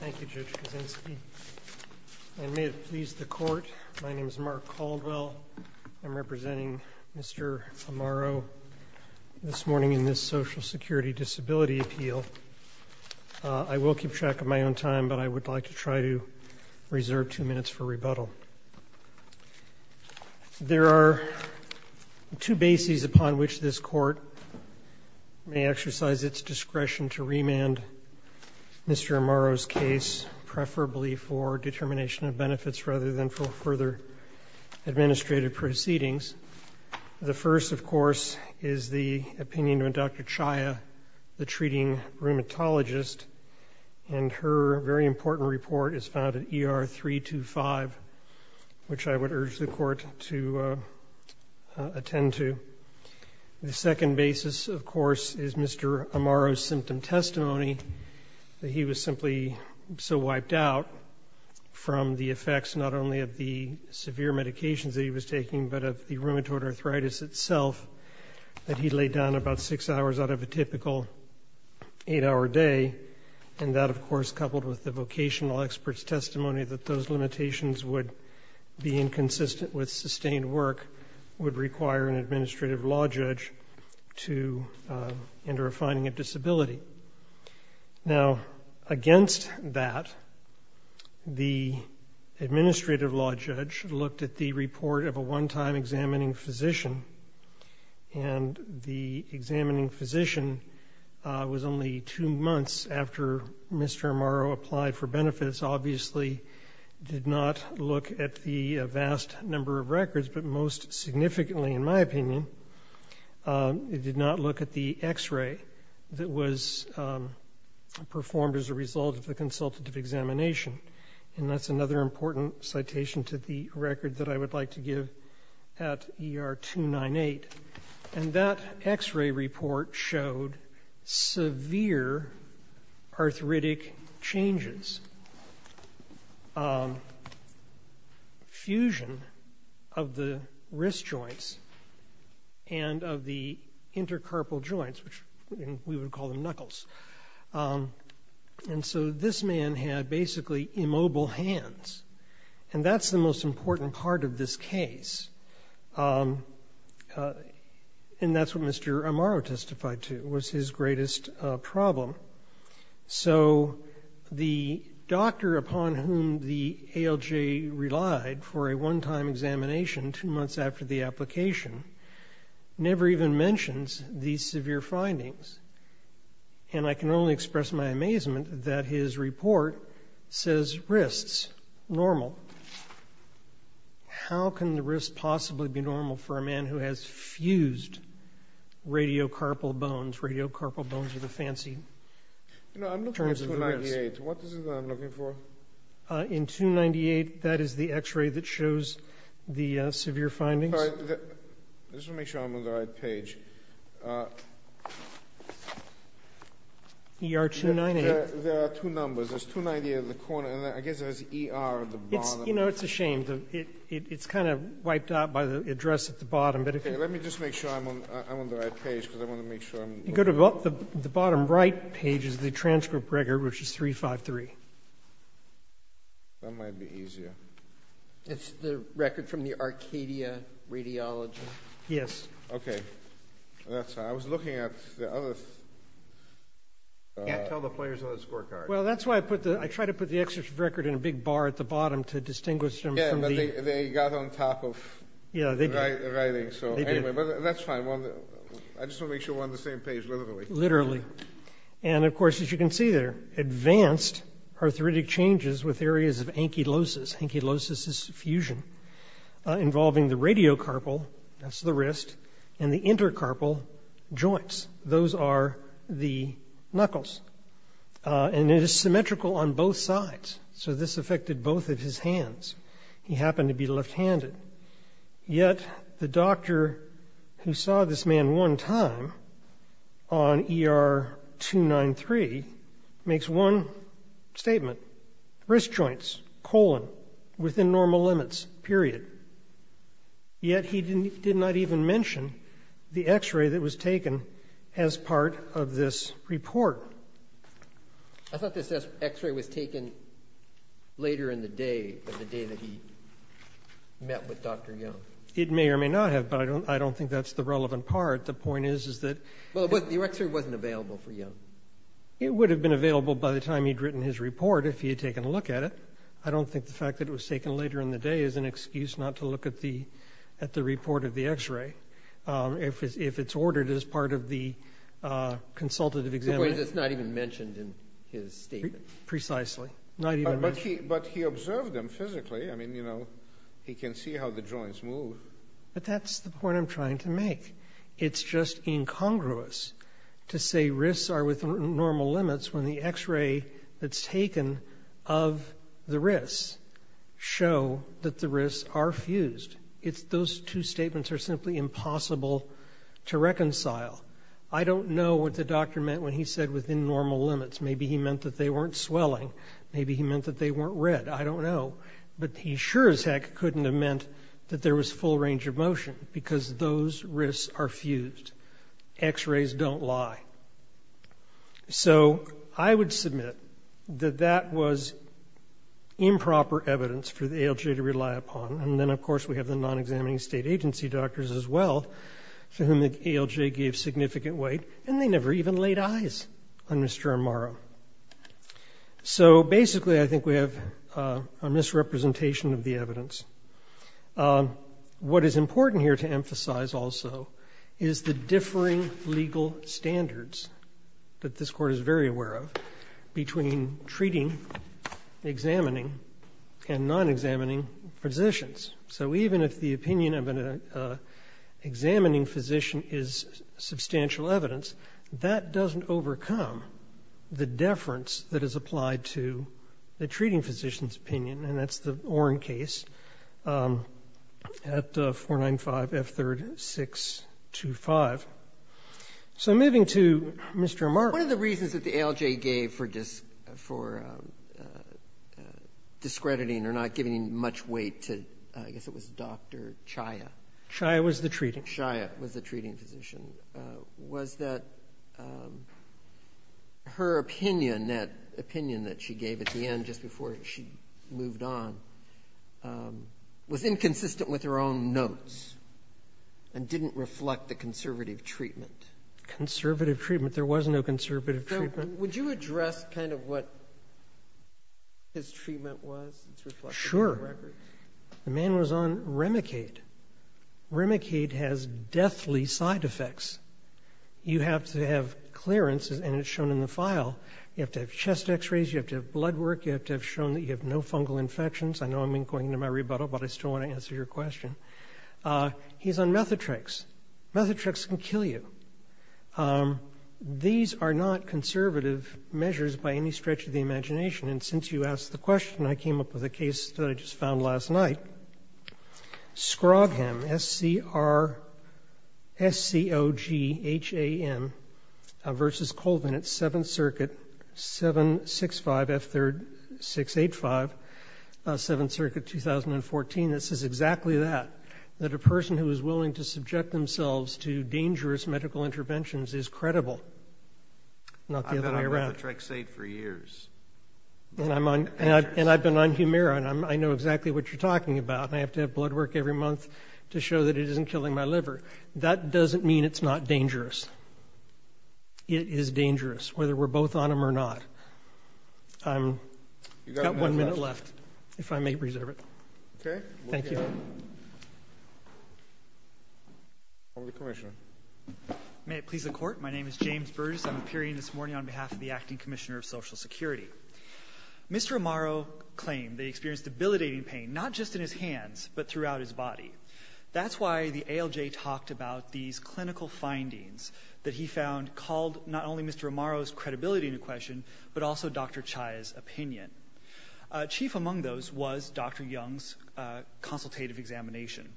Thank you, Judge Kuczynski, and may it please the Court, my name is Mark Caldwell. I'm representing Mr. Amaro this morning in this Social Security Disability Appeal. I will keep track of my own time, but I would like to try to reserve two minutes for rebuttal. There are two bases upon which this Court may exercise its discretion to remand Mr. Amaro's case, preferably for determination of benefits rather than for further administrative proceedings. The first, of course, is the opinion of Dr. Chaya, the treating rheumatologist, and her very important report is found at ER 325, which I would urge the Court to attend to. The second basis, of course, is Mr. Amaro's symptom testimony, that he was simply so wiped out from the effects not only of the severe medications that he was taking but of the rheumatoid arthritis itself that he laid down about six hours out of a typical eight-hour day, and that, of course, coupled with the vocational expert's testimony that those limitations would be inconsistent with sustained work, would require an administrative law judge to enter a finding of disability. Now, against that, the administrative law judge looked at the report of a one-time examining physician, and the examining physician was only two months after Mr. Amaro applied for benefits, obviously did not look at the vast number of records, but most significantly, in my opinion, did not look at the x-ray that was performed as a result of the consultative examination, and that's another important citation to the record that I would like to give at ER 298. And that x-ray report showed severe arthritic changes, fusion of the wrist joints and of the intercarpal joints, which we would call them knuckles. And so this man had basically immobile hands, and that's the most important part of this case. And that's what Mr. Amaro testified to was his greatest problem. So the doctor upon whom the ALJ relied for a one-time examination two months after the application never even mentions these severe findings. And I can only express my amazement that his report says wrists normal. How can the wrists possibly be normal for a man who has fused radiocarpal bones? Radiocarpal bones are the fancy terms of the wrist. You know, I'm looking at 298. What is it that I'm looking for? In 298, that is the x-ray that shows the severe findings. All right. I just want to make sure I'm on the right page. ER 298. There are two numbers. There's 298 in the corner, and I guess there's ER at the bottom. You know, it's a shame. It's kind of wiped out by the address at the bottom. Okay. Let me just make sure I'm on the right page, because I want to make sure I'm on the right page. You go to the bottom right page is the transcript record, which is 353. That might be easier. It's the record from the Arcadia Radiology? Yes. Okay. That's how I was looking at the other. You can't tell the players on the scorecard. Well, that's why I put the – I try to put the excerpt record in a big bar at the bottom to distinguish them from the – Yeah, but they got on top of the writing. Yeah, they did. Anyway, but that's fine. I just want to make sure we're on the same page, literally. Literally. And, of course, as you can see there, advanced arthritic changes with areas of ankylosis. Ankylosis is fusion involving the radiocarpal – that's the wrist – and the intercarpal joints. Those are the knuckles. And it is symmetrical on both sides, so this affected both of his hands. He happened to be left-handed. Yet, the doctor who saw this man one time on ER 293 makes one statement. Wrist joints, colon, within normal limits, period. Yet, he did not even mention the x-ray that was taken as part of this report. I thought this x-ray was taken later in the day, the day that he met with Dr. Young. It may or may not have, but I don't think that's the relevant part. The point is, is that – Well, your x-ray wasn't available for Young. It would have been available by the time he'd written his report if he had taken a look at it. I don't think the fact that it was taken later in the day is an excuse not to look at the report of the x-ray, if it's ordered as part of the consultative examination. The point is, it's not even mentioned in his statement. Precisely. Not even mentioned. But he observed them physically. I mean, you know, he can see how the joints move. But that's the point I'm trying to make. It's just incongruous to say risks are within normal limits when the x-ray that's taken of the risks show that the risks are fused. Those two statements are simply impossible to reconcile. I don't know what the doctor meant when he said within normal limits. Maybe he meant that they weren't swelling. Maybe he meant that they weren't red. I don't know. But he sure as heck couldn't have meant that there was full range of motion, because those risks are fused. X-rays don't lie. So I would submit that that was improper evidence for the ALJ to rely upon. And then, of course, we have the non-examining state agency doctors as well, for whom the ALJ gave significant weight, and they never even laid eyes on Mr. Amaro. So basically I think we have a misrepresentation of the evidence. What is important here to emphasize also is the differing legal standards that this Court is very aware of between treating, examining, and non-examining physicians. So even if the opinion of an examining physician is substantial evidence, that doesn't overcome the deference that is applied to the treating physician's opinion. And that's the Oren case at 495F3-625. So moving to Mr. Amaro. Breyer. One of the reasons that the ALJ gave for discrediting or not giving much weight to, I guess it was Dr. Chaya. Waxman. Chaya was the treating. Chaya was the treating physician. was that her opinion, that opinion that she gave at the end just before she moved on, was inconsistent with her own notes and didn't reflect the conservative treatment. Conservative treatment. There was no conservative treatment. So would you address kind of what his treatment was? It's reflected in the record. Sure. The man was on Remicade. Remicade has deathly side effects. You have to have clearances, and it's shown in the file. You have to have chest x-rays. You have to have blood work. You have to have shown that you have no fungal infections. I know I'm going into my rebuttal, but I still want to answer your question. He's on Methotrex. Methotrex can kill you. These are not conservative measures by any stretch of the imagination. And since you asked the question, I came up with a case that I just found last night, Scrogham, S-C-R-S-C-O-G-H-A-M, versus Colvin at 7th Circuit, 765F3-685, 7th Circuit, 2014. It says exactly that, that a person who is willing to subject themselves to dangerous medical interventions is credible, not the other way around. I've been on Methotrexate for years. And I've been on Humira, and I know exactly what you're talking about. I have to have blood work every month to show that it isn't killing my liver. That doesn't mean it's not dangerous. It is dangerous, whether we're both on them or not. I've got one minute left, if I may reserve it. Okay. Thank you. Over to the Commissioner. May it please the Court. My name is James Burgess. I'm appearing this morning on behalf of the Acting Commissioner of Social Security. Mr. Amaro claimed that he experienced debilitating pain, not just in his hands, but throughout his body. That's why the ALJ talked about these clinical findings that he found called not only Mr. Amaro's credibility into question, but also Dr. Chaya's opinion. Chief among those was Dr. Young's consultative examination.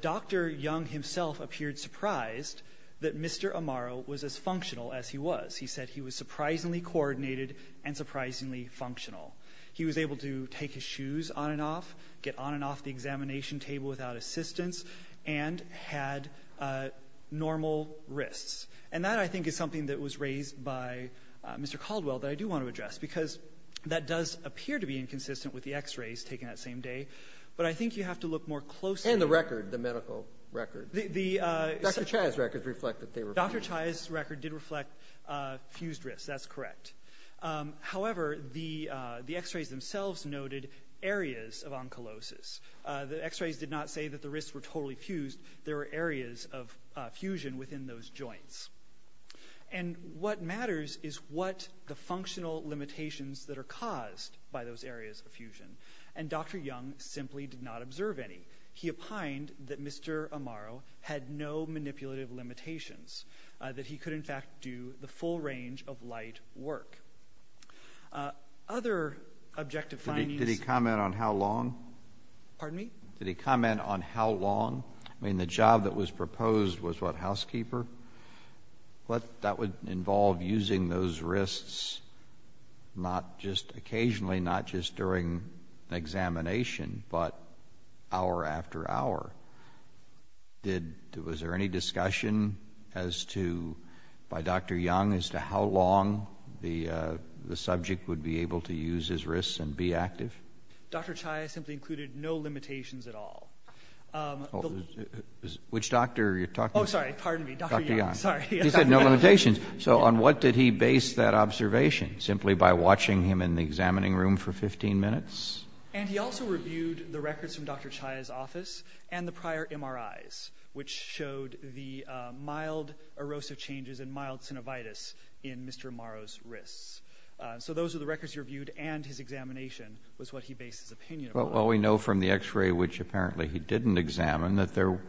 Dr. Young himself appeared surprised that Mr. Amaro was as functional as he was. He said he was surprisingly coordinated and surprisingly functional. He was able to take his shoes on and off, get on and off the examination table without assistance, and had normal wrists. And that, I think, is something that was raised by Mr. Caldwell that I do want to address, because that does appear to be inconsistent with the X-rays taken that same day. But I think you have to look more closely. And the record, the medical record. Dr. Chaya's records reflect that they were fused. Dr. Chaya's record did reflect fused wrists. That's correct. However, the X-rays themselves noted areas of oncolosis. The X-rays did not say that the wrists were totally fused. There were areas of fusion within those joints. And what matters is what the functional limitations that are caused by those areas of fusion. And Dr. Young simply did not observe any. He opined that Mr. Amaro had no manipulative limitations, that he could, in fact, do the full range of light work. Other objective findings. Did he comment on how long? Pardon me? Did he comment on how long? I mean, the job that was proposed was what, housekeeper? That would involve using those wrists not just occasionally, not just during examination, but hour after hour. Was there any discussion as to, by Dr. Young, as to how long the subject would be able to use his wrists and be active? Dr. Chaya simply included no limitations at all. Which doctor are you talking about? Oh, sorry. Pardon me. Dr. Young. Sorry. He said no limitations. So on what did he base that observation? Simply by watching him in the examining room for 15 minutes? And he also reviewed the records from Dr. Chaya's office and the prior MRIs, which showed the mild erosive changes and mild synovitis in Mr. Amaro's wrists. So those are the records he reviewed, and his examination was what he based his opinion on. Well, we know from the x-ray, which apparently he didn't examine, that there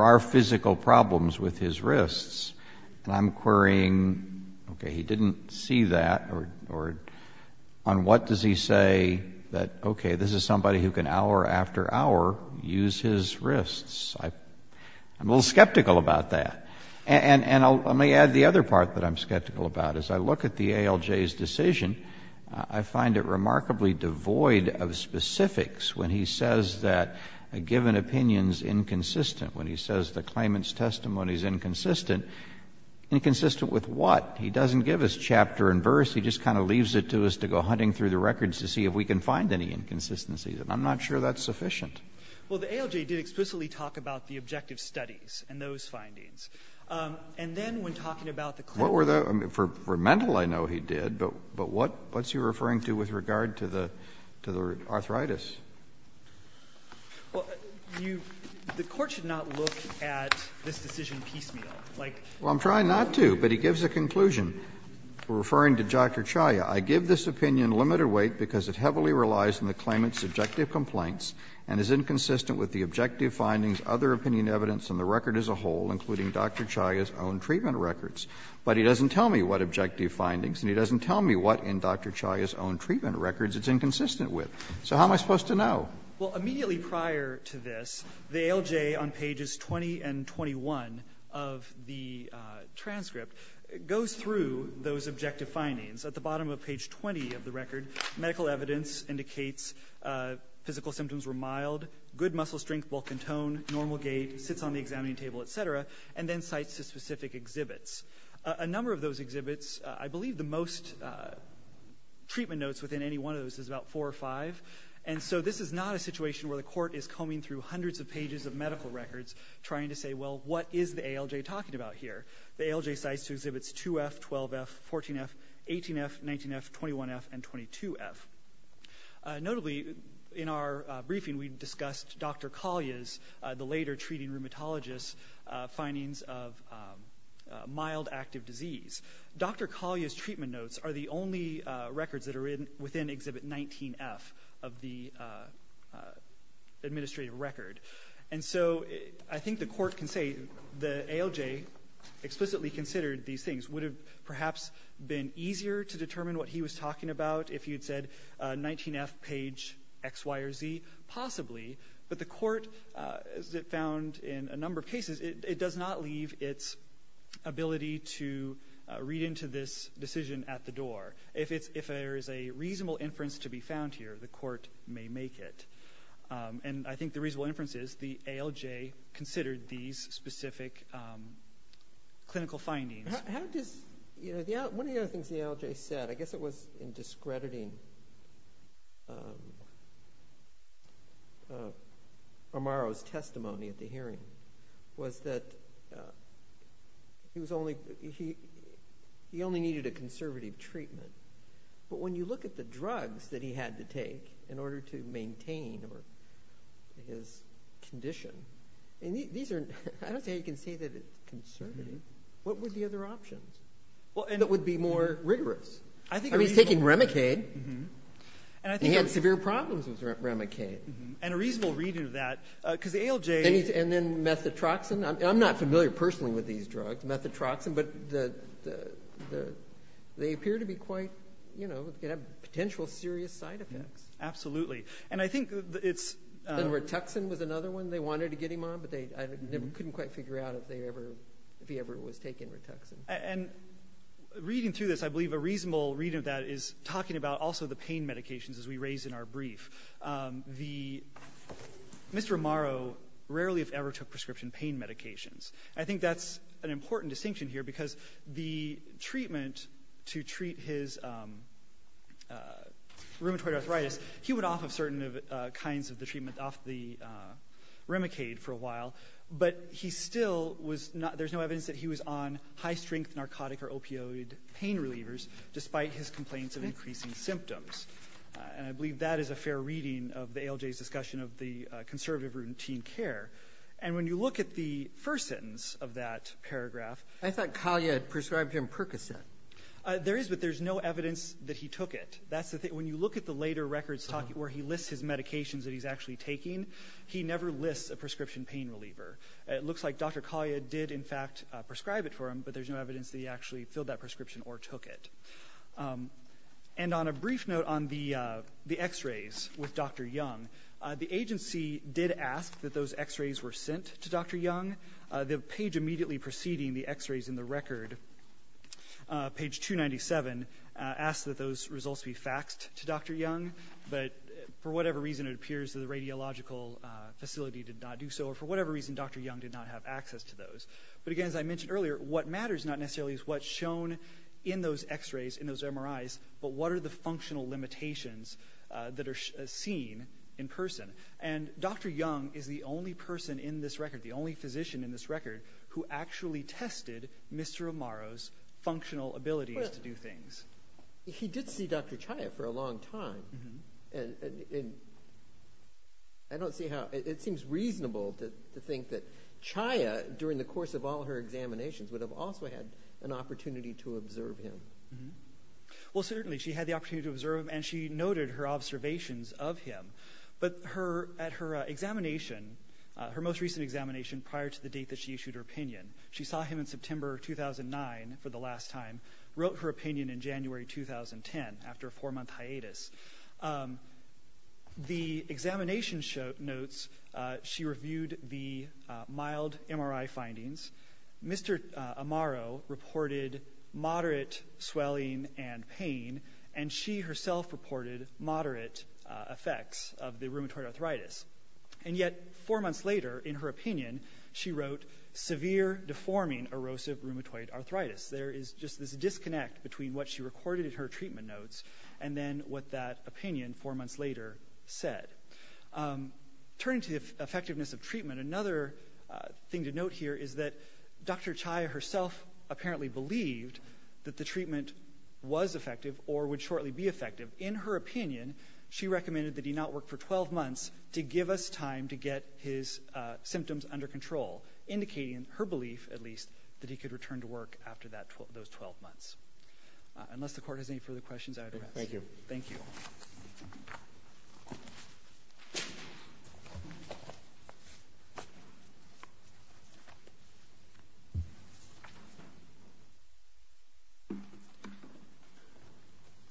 are physical problems with his wrists. And I'm querying, okay, he didn't see that, or on what does he say that, okay, this is somebody who can hour after hour use his wrists. I'm a little skeptical about that. And let me add the other part that I'm skeptical about. As I look at the ALJ's decision, I find it remarkably devoid of specifics when he says that a given opinion is inconsistent, when he says the claimant's testimony is inconsistent. Inconsistent with what? He doesn't give us chapter and verse. He just kind of leaves it to us to go hunting through the records to see if we can find any inconsistencies. And I'm not sure that's sufficient. Well, the ALJ did explicitly talk about the objective studies and those findings. And then when talking about the claimant's testimony. For mental, I know he did, but what's he referring to with regard to the arthritis? The Court should not look at this decision piecemeal. Well, I'm trying not to, but he gives a conclusion referring to Dr. Chaya. I give this opinion limited weight because it heavily relies on the claimant's subjective complaints and is inconsistent with the objective findings, other opinion evidence, and the record as a whole, including Dr. Chaya's own treatment records. But he doesn't tell me what objective findings, and he doesn't tell me what in Dr. Chaya's own treatment records it's inconsistent with. So how am I supposed to know? Well, immediately prior to this, the ALJ on pages 20 and 21 of the transcript goes through those objective findings. At the bottom of page 20 of the record, medical evidence indicates physical symptoms were mild, good muscle strength, bulk and tone, normal gait, sits on the examining table, et cetera, and then cites the specific exhibits. A number of those exhibits, I believe the most treatment notes within any one of those is about four or five. And so this is not a situation where the Court is combing through hundreds of pages of medical records trying to say, well, what is the ALJ talking about here? The ALJ cites two exhibits, 2F, 12F, 14F, 18F, 19F, 21F, and 22F. Notably, in our briefing, we discussed Dr. Kalia's, the later treating rheumatologist's, findings of mild active disease. Dr. Kalia's treatment notes are the only records that are within exhibit 19F of the administrative record. And so I think the Court can say the ALJ explicitly considered these things. Would it have perhaps been easier to determine what he was talking about if he had said 19F page X, Y, or Z? Possibly. But the Court, as it found in a number of cases, it does not leave its ability to read into this decision at the door. If there is a reasonable inference to be found here, the Court may make it. And I think the reasonable inference is the ALJ considered these specific clinical findings. One of the other things the ALJ said, I guess it was in discrediting Amaro's testimony at the hearing, was that he only needed a conservative treatment. But when you look at the drugs that he had to take in order to maintain his condition, I don't think you can say that it's conservative. What were the other options that would be more rigorous? I mean, he's taking Remicade. He had severe problems with Remicade. And a reasonable reading of that, because the ALJ... And then methotroxin. I'm not familiar personally with these drugs. Methotroxin, but they appear to be quite, you know, could have potential serious side effects. Absolutely. And I think it's... And rituxan was another one they wanted to get him on, but I couldn't quite figure out if he ever was taking rituxan. And reading through this, I believe a reasonable reading of that is talking about also the pain medications, as we raise in our brief. Mr. Amaro rarely, if ever, took prescription pain medications. I think that's an important distinction here, because the treatment to treat his rheumatoid arthritis, he went off of certain kinds of the treatment, off the Remicade for a while. But he still was not... There's no evidence that he was on high-strength narcotic or opioid pain relievers, despite his complaints of increasing symptoms. And I believe that is a fair reading of the ALJ's discussion of the conservative routine care. And when you look at the first sentence of that paragraph... I thought Collier prescribed him Percocet. There is, but there's no evidence that he took it. That's the thing. When you look at the later records where he lists his medications that he's actually taking, he never lists a prescription pain reliever. It looks like Dr. Collier did, in fact, prescribe it for him, but there's no evidence that he actually filled that prescription or took it. And on a brief note on the x-rays with Dr. Young, the agency did ask that those x-rays were sent to Dr. Young. The page immediately preceding the x-rays in the record, page 297, asks that those results be faxed to Dr. Young, but for whatever reason, it appears that the radiological facility did not do so, or for whatever reason, Dr. Young did not have access to those. But, again, as I mentioned earlier, what matters not necessarily is what's shown in those x-rays, in those MRIs, but what are the functional limitations that are seen in person. And Dr. Young is the only person in this record, the only physician in this record, who actually tested Mr. Amaro's functional abilities to do things. He did see Dr. Chaya for a long time, and it seems reasonable to think that Chaya, during the course of all her examinations, would have also had an opportunity to observe him. Well, certainly, she had the opportunity to observe him, and she noted her observations of him. But at her examination, her most recent examination prior to the date that she issued her opinion, she saw him in September 2009 for the last time, wrote her opinion in January 2010, after a four-month hiatus. The examination notes, she reviewed the mild MRI findings. Mr. Amaro reported moderate swelling and pain, and she herself reported moderate effects of the rheumatoid arthritis. And yet, four months later, in her opinion, she wrote, severe deforming erosive rheumatoid arthritis. There is just this disconnect between what she recorded in her treatment notes and then what that opinion, four months later, said. Turning to the effectiveness of treatment, another thing to note here is that Dr. Chaya herself apparently believed that the treatment was effective or would shortly be effective. In her opinion, she recommended that he not work for 12 months to give us time to get his symptoms under control, indicating her belief, at least, that he could return to work after those 12 months. Unless the Court has any further questions, I would ask you. Thank you. Thank you.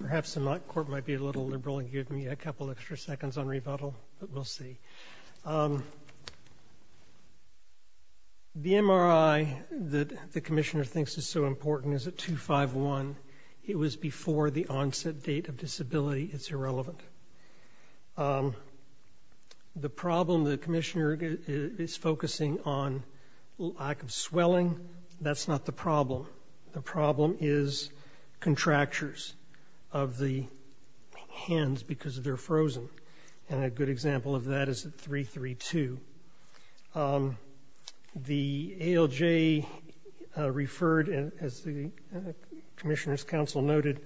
Perhaps the Court might be a little liberal and give me a couple extra seconds on rebuttal, but we'll see. The MRI that the Commissioner thinks is so important is a 251. It was before the onset date of disability. It's irrelevant. The problem the Commissioner is focusing on, lack of swelling, that's not the problem. The problem is contractures of the hands because they're frozen. And a good example of that is at 332. The ALJ referred, as the Commissioner's counsel noted,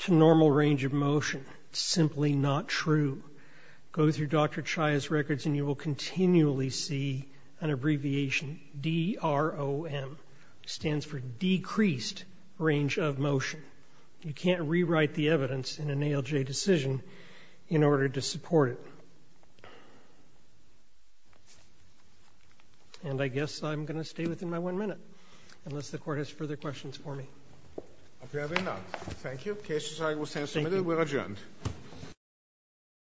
to normal range of motion. It's simply not true. Go through Dr. Chaya's records and you will continually see an abbreviation, DROM, stands for decreased range of motion. You can't rewrite the evidence in an ALJ decision in order to support it. And I guess I'm going to stay within my one minute, unless the Court has further questions for me. If you have any, thank you. The case will stand submitted. We're adjourned.